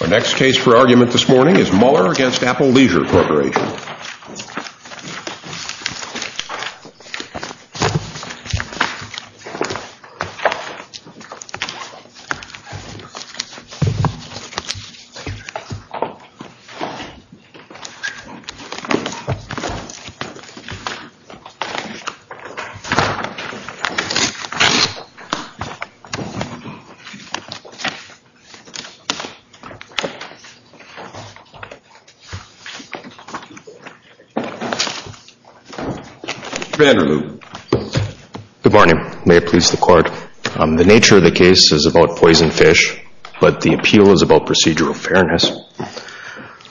Our next case for argument this morning is Mueller v. Apple Leisure Corporation. The nature of the case is about poison fish, but the appeal is about procedural fairness.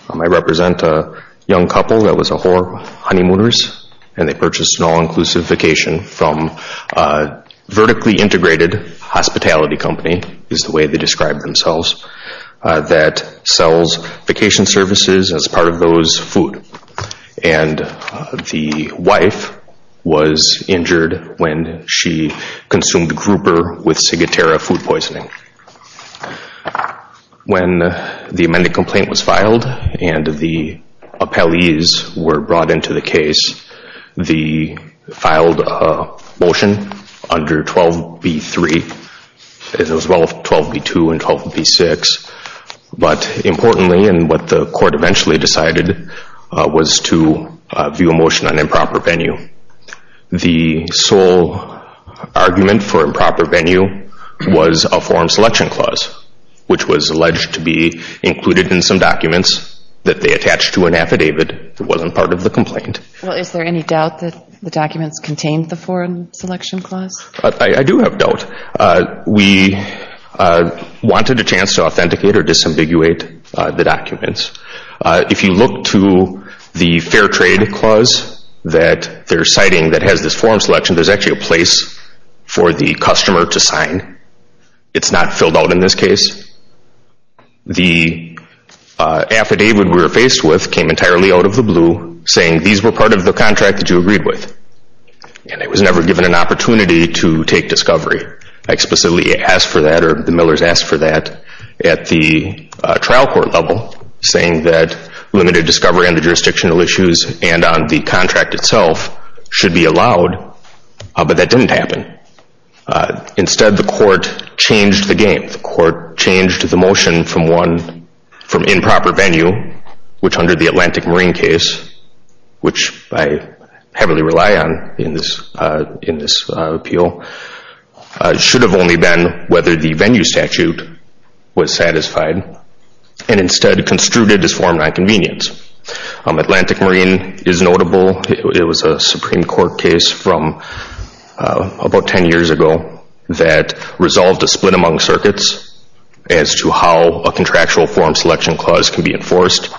I represent a young couple that was a whore on honeymooners, and they purchased an all-inclusive vacation from a vertically integrated hospitality company, is the way they describe themselves, that sells vacation services as part of those food, and the wife was injured when she consumed grouper with ciguatera food poisoning. When the amended complaint was filed and the appellees were brought into the case, they filed a motion under 12b-3, as well as 12b-2 and 12b-6, but importantly, and what the court eventually decided, was to view a motion on improper venue. The sole argument for improper venue was a foreign selection clause, which was alleged to be included in some documents that they attached to an affidavit. It wasn't part of the complaint. Is there any doubt that the documents contained the foreign selection clause? I do have doubt. We wanted a chance to authenticate or disambiguate the documents. If you look to the fair trade clause that they're citing that has this foreign selection, there's actually a place for the customer to sign. It's not filled out in this case. The affidavit we were faced with came entirely out of the blue, saying these were part of the contract that you agreed with, and it was never given an opportunity to take discovery. I explicitly asked for that, or the Millers asked for that, at the trial court level, saying that limited discovery on the jurisdictional issues and on the contract itself should be allowed, but that didn't happen. Instead, the court changed the game. The court changed the motion from improper venue, which under the Atlantic Marine case, which I heavily rely on in this appeal, should have only been whether the venue statute was satisfied, and instead construed it as foreign non-convenience. Atlantic Marine is notable. It was a Supreme Court case from about 10 years ago that resolved a split among circuits as to how a contractual foreign selection clause can be enforced.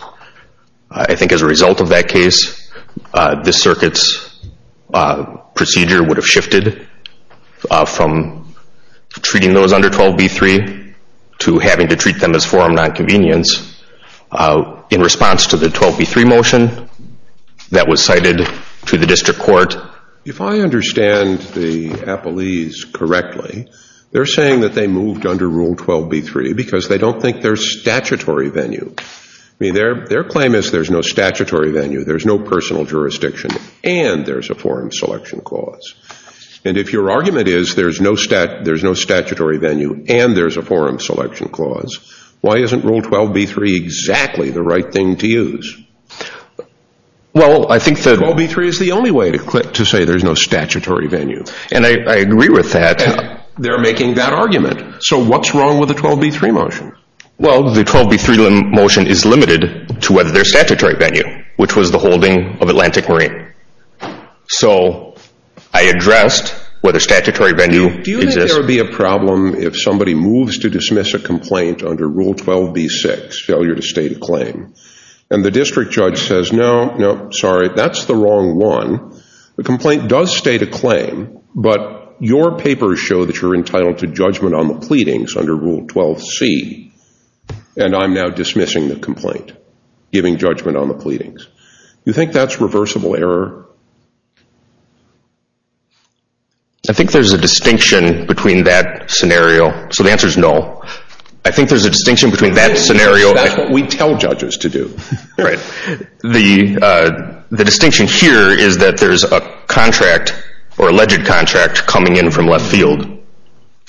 I think as a result of that case, this circuit's procedure would have shifted from treating those under 12b-3 to having to treat them as foreign non-convenience in response to the 12b-3 motion that was cited to the district court. If I understand the appellees correctly, they're saying that they moved under Rule 12b-3 because they don't think there's statutory venue. I mean, their claim is there's no statutory venue, there's no personal jurisdiction, and there's a foreign selection clause. And if your argument is there's no statutory venue and there's a foreign selection clause, why isn't Rule 12b-3 exactly the right thing to use? Well, I think that... 12b-3 is the only way to say there's no statutory venue. And I agree with that. They're making that argument. So what's wrong with the 12b-3 motion? Well, the 12b-3 motion is limited to whether there's statutory venue, which was the holding of Atlantic Marine. So I addressed whether statutory venue exists. Do you think there would be a problem if somebody moves to dismiss a complaint under Rule 12b-6, Failure to State a Claim, and the district judge says, no, no, sorry, that's the wrong one. The complaint does state a claim, but your papers show that you're entitled to judgment on the pleadings under Rule 12c, and I'm now dismissing the complaint, giving judgment on the pleadings. Do you think that's reversible error? I think there's a distinction between that scenario. So the answer is no. I think there's a distinction between that scenario... That's what we tell judges to do. Right. The distinction here is that there's a contract or alleged contract coming in from left field,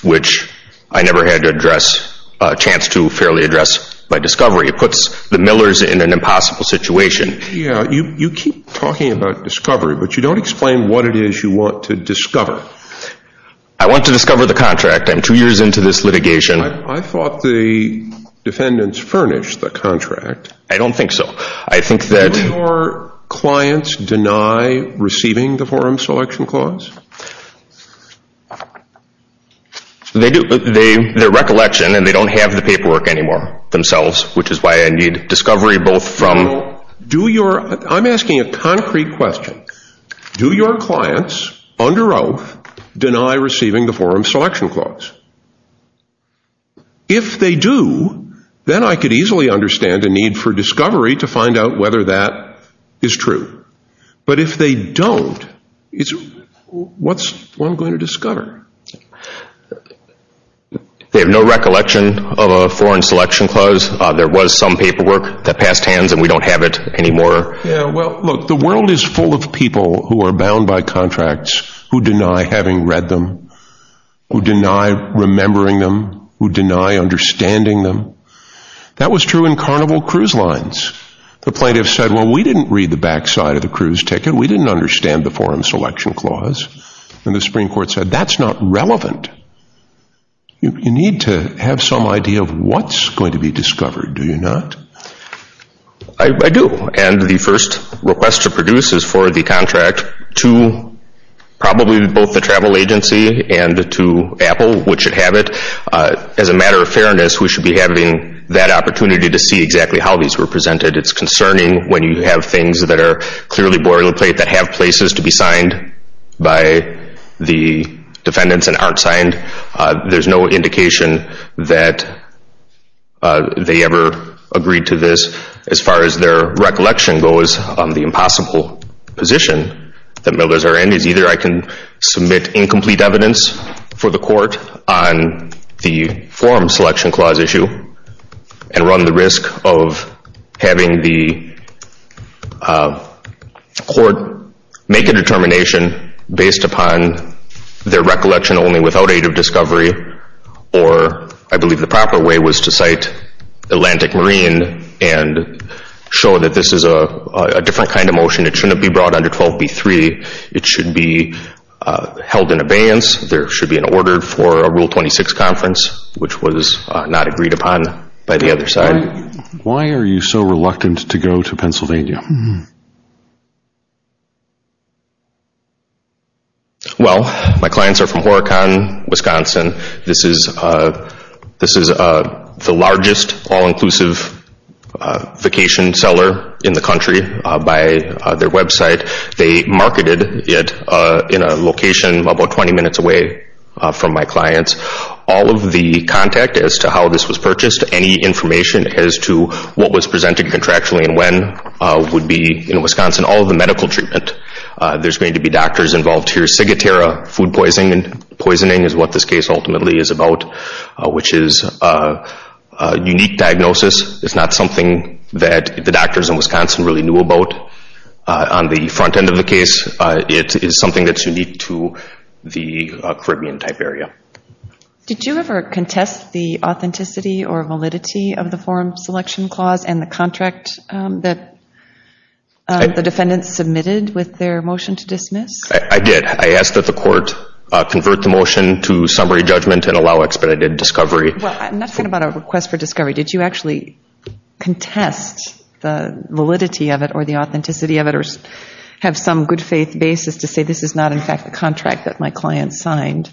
which I never had a chance to fairly address by discovery. It puts the Millers in an impossible situation. Yeah, you keep talking about discovery, but you don't explain what it is you want to discover. I want to discover the contract. I'm two years into this litigation. I thought the defendants furnished the contract. I don't think so. I think that... Do your clients deny receiving the Forum Selection Clause? They do. They're recollection, and they don't have the paperwork anymore themselves, which is why I need discovery both from... I'm asking a concrete question. Do your clients under oath deny receiving the Forum Selection Clause? If they do, then I could easily understand a need for discovery to find out whether that is true. But if they don't, what's one going to discover? They have no recollection of a Forum Selection Clause. There was some paperwork that passed hands, and we don't have it anymore. Yeah, well, look, the world is full of people who are bound by contracts who deny having read them, who deny remembering them, who deny understanding them. That was true in Carnival Cruise Lines. The plaintiffs said, well, we didn't read the backside of the cruise ticket. We didn't understand the Forum Selection Clause. And the Supreme Court said, that's not relevant. You need to have some idea of what's going to be discovered, do you not? I do, and the first request to produce is for the contract to probably both the travel agency and to Apple, which should have it. As a matter of fairness, we should be having that opportunity to see exactly how these were presented. It's concerning when you have things that are clearly boilerplate that have places to be signed by the defendants and aren't signed. There's no indication that they ever agreed to this. As far as their recollection goes, the impossible position that Miller's are in is either I can submit incomplete evidence for the court on the Forum Selection Clause issue and run the risk of having the court make a determination based upon their recollection only without aid of discovery, or I believe the proper way was to cite Atlantic Marine and show that this is a different kind of motion. It shouldn't be brought under 12b-3. It should be held in abeyance. There should be an order for a Rule 26 conference, which was not agreed upon by the other side. Why are you so reluctant to go to Pennsylvania? Well, my clients are from Horicon, Wisconsin. This is the largest all-inclusive vacation cellar in the country by their website. They marketed it in a location about 20 minutes away from my clients. All of the contact as to how this was purchased, any information as to what was presented contractually and when, would be in Wisconsin. All of the medical treatment, there's going to be doctors involved here. Cigatera, food poisoning is what this case ultimately is about, which is a unique diagnosis. It's not something that the doctors in Wisconsin really knew about on the front end of the case. It is something that's unique to the Caribbean-type area. Did you ever contest the authenticity or validity of the form selection clause and the contract that the defendants submitted with their motion to dismiss? I did. I asked that the court convert the motion to summary judgment and allow expedited discovery. I'm not talking about a request for discovery. Did you actually contest the validity of it or the authenticity of it or have some good faith basis to say this is not, in fact, the contract that my client signed?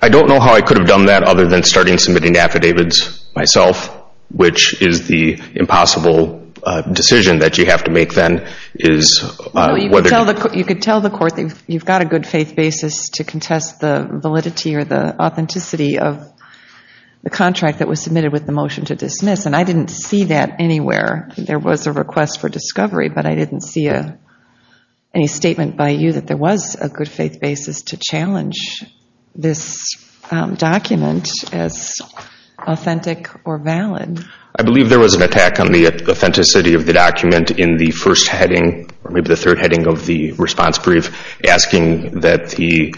I don't know how I could have done that other than starting submitting affidavits myself, which is the impossible decision that you have to make then. You could tell the court that you've got a good faith basis to contest the validity or the authenticity of the contract that was submitted with the motion to dismiss. I didn't see that anywhere. There was a request for discovery, but I didn't see any statement by you that there was a good faith basis to challenge this document as authentic or valid. I believe there was an attack on the authenticity of the document in the first heading, or maybe the third heading of the response brief, asking that the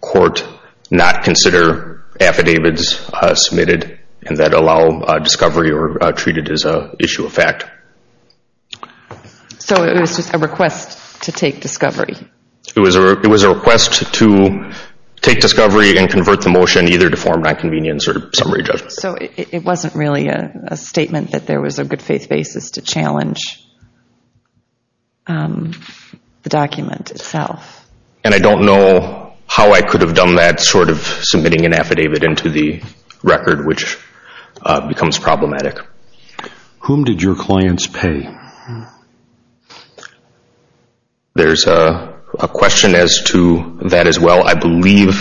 court not consider affidavits submitted that allow discovery or treat it as an issue of fact. So it was just a request to take discovery? It was a request to take discovery and convert the motion either to form nonconvenience or summary judgment. So it wasn't really a statement that there was a good faith basis to challenge the document itself. And I don't know how I could have done that sort of submitting an affidavit into the record, which becomes problematic. Whom did your clients pay? There's a question as to that as well. I believe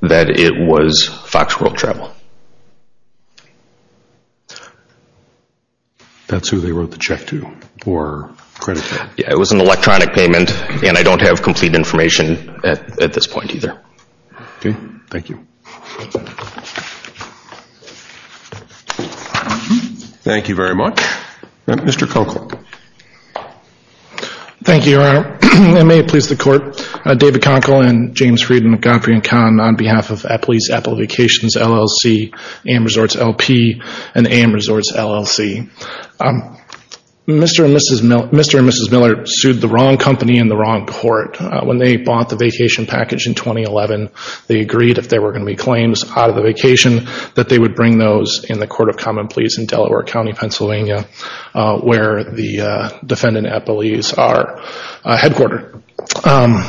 that it was Fox World Travel. That's who they wrote the check to or credited? Yeah, it was an electronic payment, and I don't have complete information at this point either. Okay, thank you. Thank you very much. Mr. Conkle. Thank you, Your Honor. And may it please the Court, David Conkle and James Friedman of Godfrey & Kahn, on behalf of Epley's Epley Vacations LLC, AM Resorts LP, and AM Resorts LLC. Mr. and Mrs. Miller sued the wrong company in the wrong court. When they bought the vacation package in 2011, they agreed if there were going to be claims out of the vacation, that they would bring those in the Court of Common Pleas in Delaware County, Pennsylvania, where the defendant at Epley's are headquartered.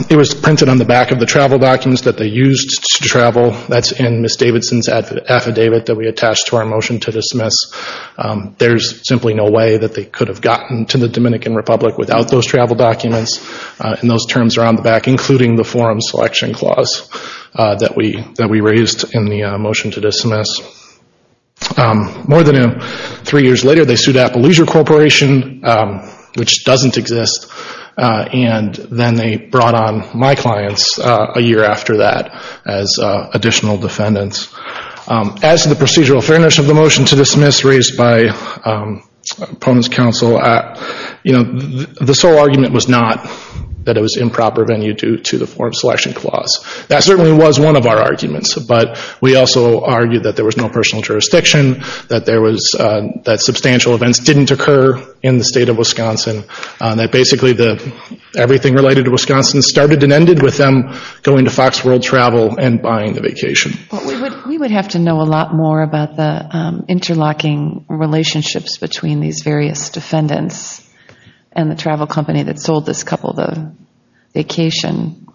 It was printed on the back of the travel documents that they used to travel. That's in Ms. Davidson's affidavit that we attached to our motion to dismiss. There's simply no way that they could have gotten to the Dominican Republic without those travel documents. And those terms are on the back, including the forum selection clause that we raised in the motion to dismiss. More than three years later, they sued Apple Leisure Corporation, which doesn't exist, and then they brought on my clients a year after that as additional defendants. As to the procedural fairness of the motion to dismiss raised by opponents counsel, the sole argument was not that it was improper venue due to the forum selection clause. That certainly was one of our arguments, but we also argued that there was no personal jurisdiction, that substantial events didn't occur in the state of Wisconsin, that basically everything related to Wisconsin started and ended with them going to Fox World Travel and buying the vacation. We would have to know a lot more about the interlocking relationships between these various defendants and the travel company that sold this couple the vacation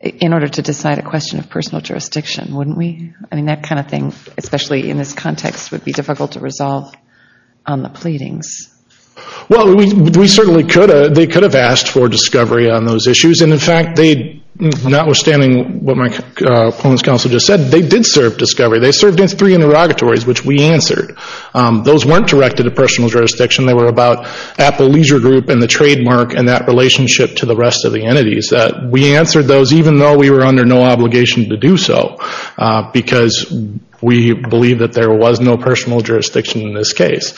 in order to decide a question of personal jurisdiction, wouldn't we? That kind of thing, especially in this context, would be difficult to resolve on the pleadings. Well, they could have asked for discovery on those issues, and in fact, notwithstanding what my opponents counsel just said, they did serve discovery. They served three interrogatories, which we answered. Those weren't directed to personal jurisdiction. They were about Apple Leisure Group and the trademark and that relationship to the rest of the entities. We answered those even though we were under no obligation to do so because we believe that there was no personal jurisdiction in this case.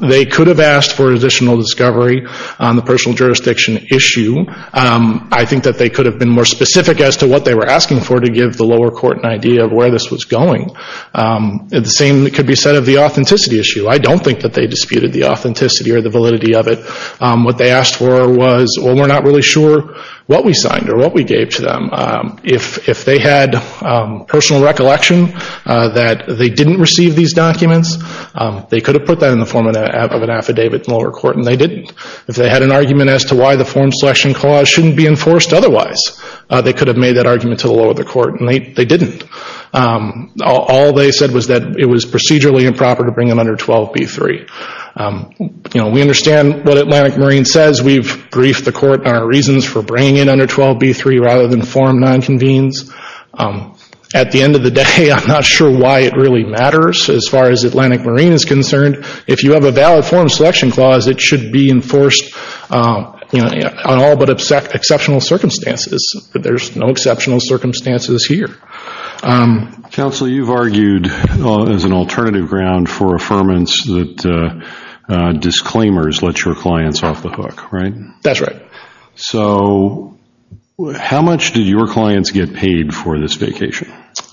They could have asked for additional discovery on the personal jurisdiction issue. I think that they could have been more specific as to what they were asking for to give the lower court an idea of where this was going. The same could be said of the authenticity issue. I don't think that they disputed the authenticity or the validity of it. What they asked for was, well, we're not really sure what we signed or what we gave to them. If they had personal recollection that they didn't receive these documents, they could have put that in the form of an affidavit to the lower court, and they didn't. If they had an argument as to why the form selection clause shouldn't be enforced otherwise, they could have made that argument to the lower court, and they didn't. All they said was that it was procedurally improper to bring it under 12b-3. We understand what Atlantic Marine says. We've briefed the court on our reasons for bringing it under 12b-3 rather than form non-convenes. At the end of the day, I'm not sure why it really matters as far as Atlantic Marine is concerned. If you have a valid form selection clause, it should be enforced on all but exceptional circumstances. There's no exceptional circumstances here. Counsel, you've argued as an alternative ground for affirmance that disclaimers let your clients off the hook, right? That's right. So how much did your clients get paid for this vacation?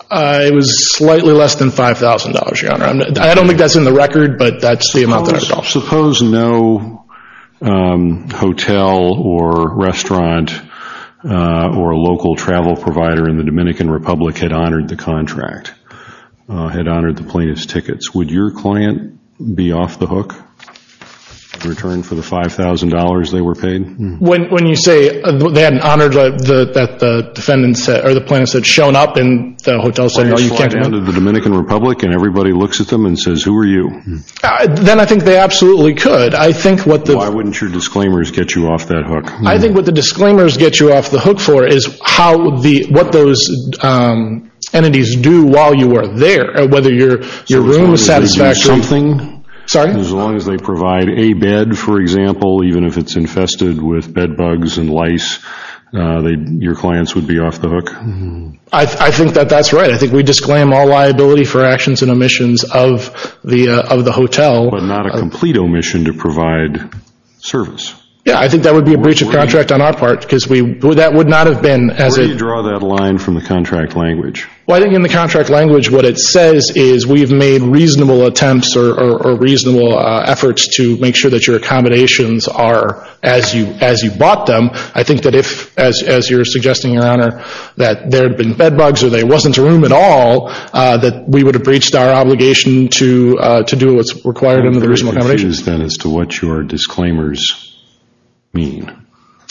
It was slightly less than $5,000, Your Honor. I don't think that's in the record, but that's the amount that I recall. Suppose no hotel or restaurant or local travel provider in the Dominican Republic had honored the contract, had honored the plaintiff's tickets. Would your client be off the hook in return for the $5,000 they were paid? When you say they hadn't honored that the plaintiff had shown up in the hotel setting. You slide down to the Dominican Republic and everybody looks at them and says, who are you? Then I think they absolutely could. Why wouldn't your disclaimers get you off that hook? I think what the disclaimers get you off the hook for is what those entities do while you are there, whether your room is satisfactory. As long as they do something? Sorry? As long as they provide a bed, for example, even if it's infested with bed bugs and lice, your clients would be off the hook? I think that that's right. I think we disclaim all liability for actions and omissions of the hotel. But not a complete omission to provide service. Yeah, I think that would be a breach of contract on our part because that would not have been as a... Where do you draw that line from the contract language? Well, I think in the contract language what it says is we've made reasonable attempts or reasonable efforts to make sure that your accommodations are as you bought them. I think that if, as you're suggesting, Your Honor, that there had been bed bugs or there wasn't room at all, that we would have breached our obligation to do what's required under the reasonable accommodation. What are the issues then as to what your disclaimers mean?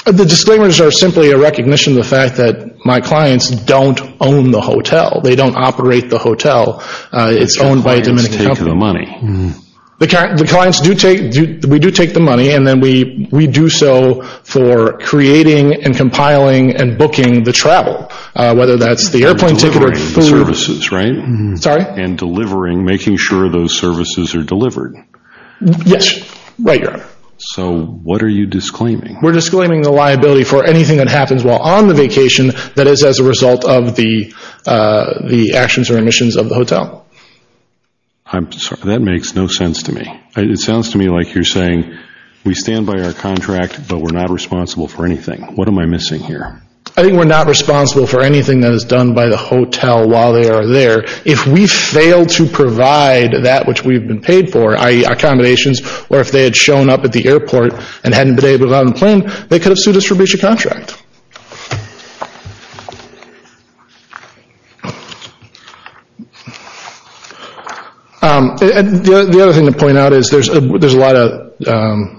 The disclaimers are simply a recognition of the fact that my clients don't own the hotel. They don't operate the hotel. It's owned by a Dominican company. The clients take the money. We do take the money, and then we do so for creating and compiling and booking the travel, whether that's the airplane ticket or food. You're delivering the services, right? Sorry? And delivering, making sure those services are delivered. Yes. Right, Your Honor. So what are you disclaiming? We're disclaiming the liability for anything that happens while on the vacation that is as a result of the actions or omissions of the hotel. I'm sorry. That makes no sense to me. It sounds to me like you're saying we stand by our contract, but we're not responsible for anything. What am I missing here? I think we're not responsible for anything that is done by the hotel while they are there. If we fail to provide that which we've been paid for, i.e., accommodations, or if they had shown up at the airport and hadn't been able to get on the plane, they could have sued us for breach of contract. The other thing to point out is there's a lot of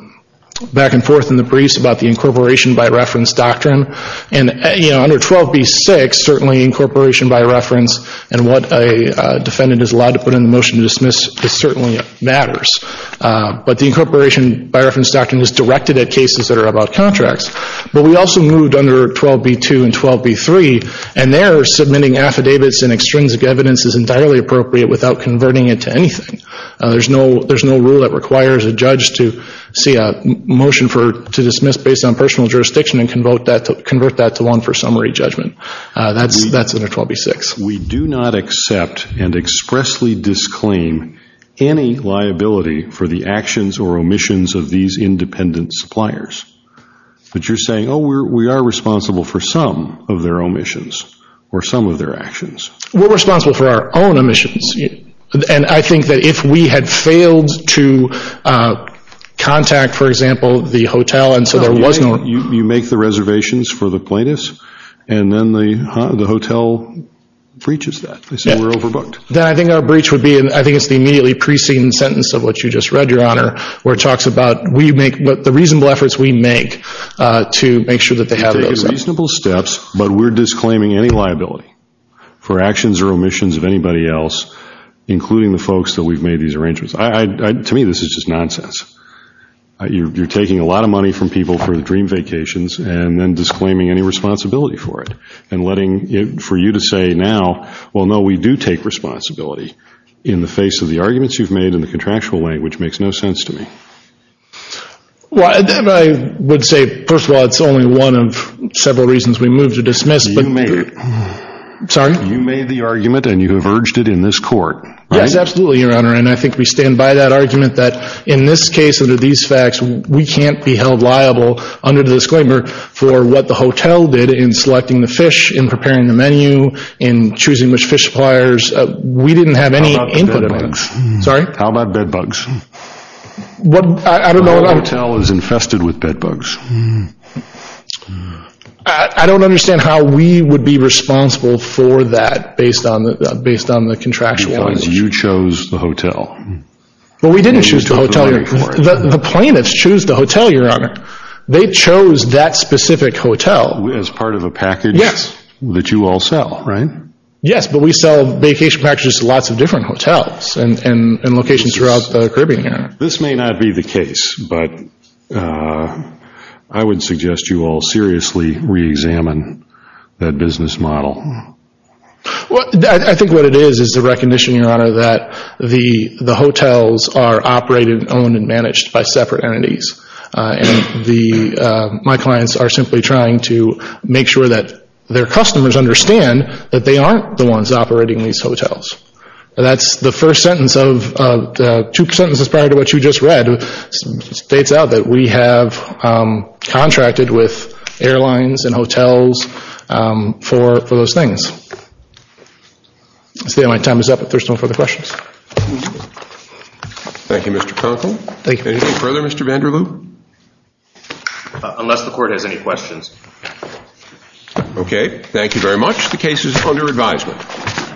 back and forth in the briefs about the incorporation by reference doctrine. Under 12b-6, certainly incorporation by reference and what a defendant is allowed to put in the motion to dismiss certainly matters. But the incorporation by reference doctrine is directed at cases that are about contracts. But we also moved under 12b-2 and 12b-3, and there submitting affidavits and extrinsic evidence is entirely appropriate without converting it to anything. There's no rule that requires a judge to see a motion to dismiss based on personal jurisdiction and convert that to one for summary judgment. That's under 12b-6. We do not accept and expressly disclaim any liability for the actions or omissions of these independent suppliers. But you're saying, oh, we are responsible for some of their omissions or some of their actions. We're responsible for our own omissions. And I think that if we had failed to contact, for example, the hotel and so there was no You make the reservations for the plaintiffs, and then the hotel breaches that. They say we're overbooked. Then I think our breach would be, and I think it's the immediately preceding sentence of what you just read, Your Honor, where it talks about the reasonable efforts we make to make sure that they have those. We take reasonable steps, but we're disclaiming any liability for actions or omissions of anybody else, including the folks that we've made these arrangements. To me, this is just nonsense. You're taking a lot of money from people for the dream vacations and then disclaiming any responsibility for it and letting it for you to say now, well, no, we do take responsibility in the face of the arguments you've made in the contractual way, which makes no sense to me. Well, I would say, first of all, it's only one of several reasons we move to dismiss. You made it. Sorry? You made the argument, and you have urged it in this court. Yes, absolutely, Your Honor. And I think we stand by that argument that in this case, under these facts, we can't be held liable, under the disclaimer, for what the hotel did in selecting the fish, in preparing the menu, in choosing which fish suppliers. We didn't have any input on that. How about bed bugs? Sorry? How about bed bugs? What? I don't know. The hotel is infested with bed bugs. I don't understand how we would be responsible for that based on the contractual issue. Because you chose the hotel. Well, we didn't choose the hotel, Your Honor. The plaintiffs chose the hotel, Your Honor. They chose that specific hotel. As part of a package that you all sell, right? Yes, but we sell vacation packages to lots of different hotels and locations throughout the Caribbean area. This may not be the case, but I would suggest you all seriously reexamine that business model. I think what it is, is the recognition, Your Honor, that the hotels are operated, owned, and managed by separate entities. My clients are simply trying to make sure that their customers understand that they aren't the ones operating these hotels. That's the first sentence of two sentences prior to what you just read. It states out that we have contracted with airlines and hotels for those things. I see my time is up if there are no further questions. Thank you, Mr. Conkle. Anything further, Mr. Vanderloop? Unless the Court has any questions. Okay, thank you very much. The case is under advisement.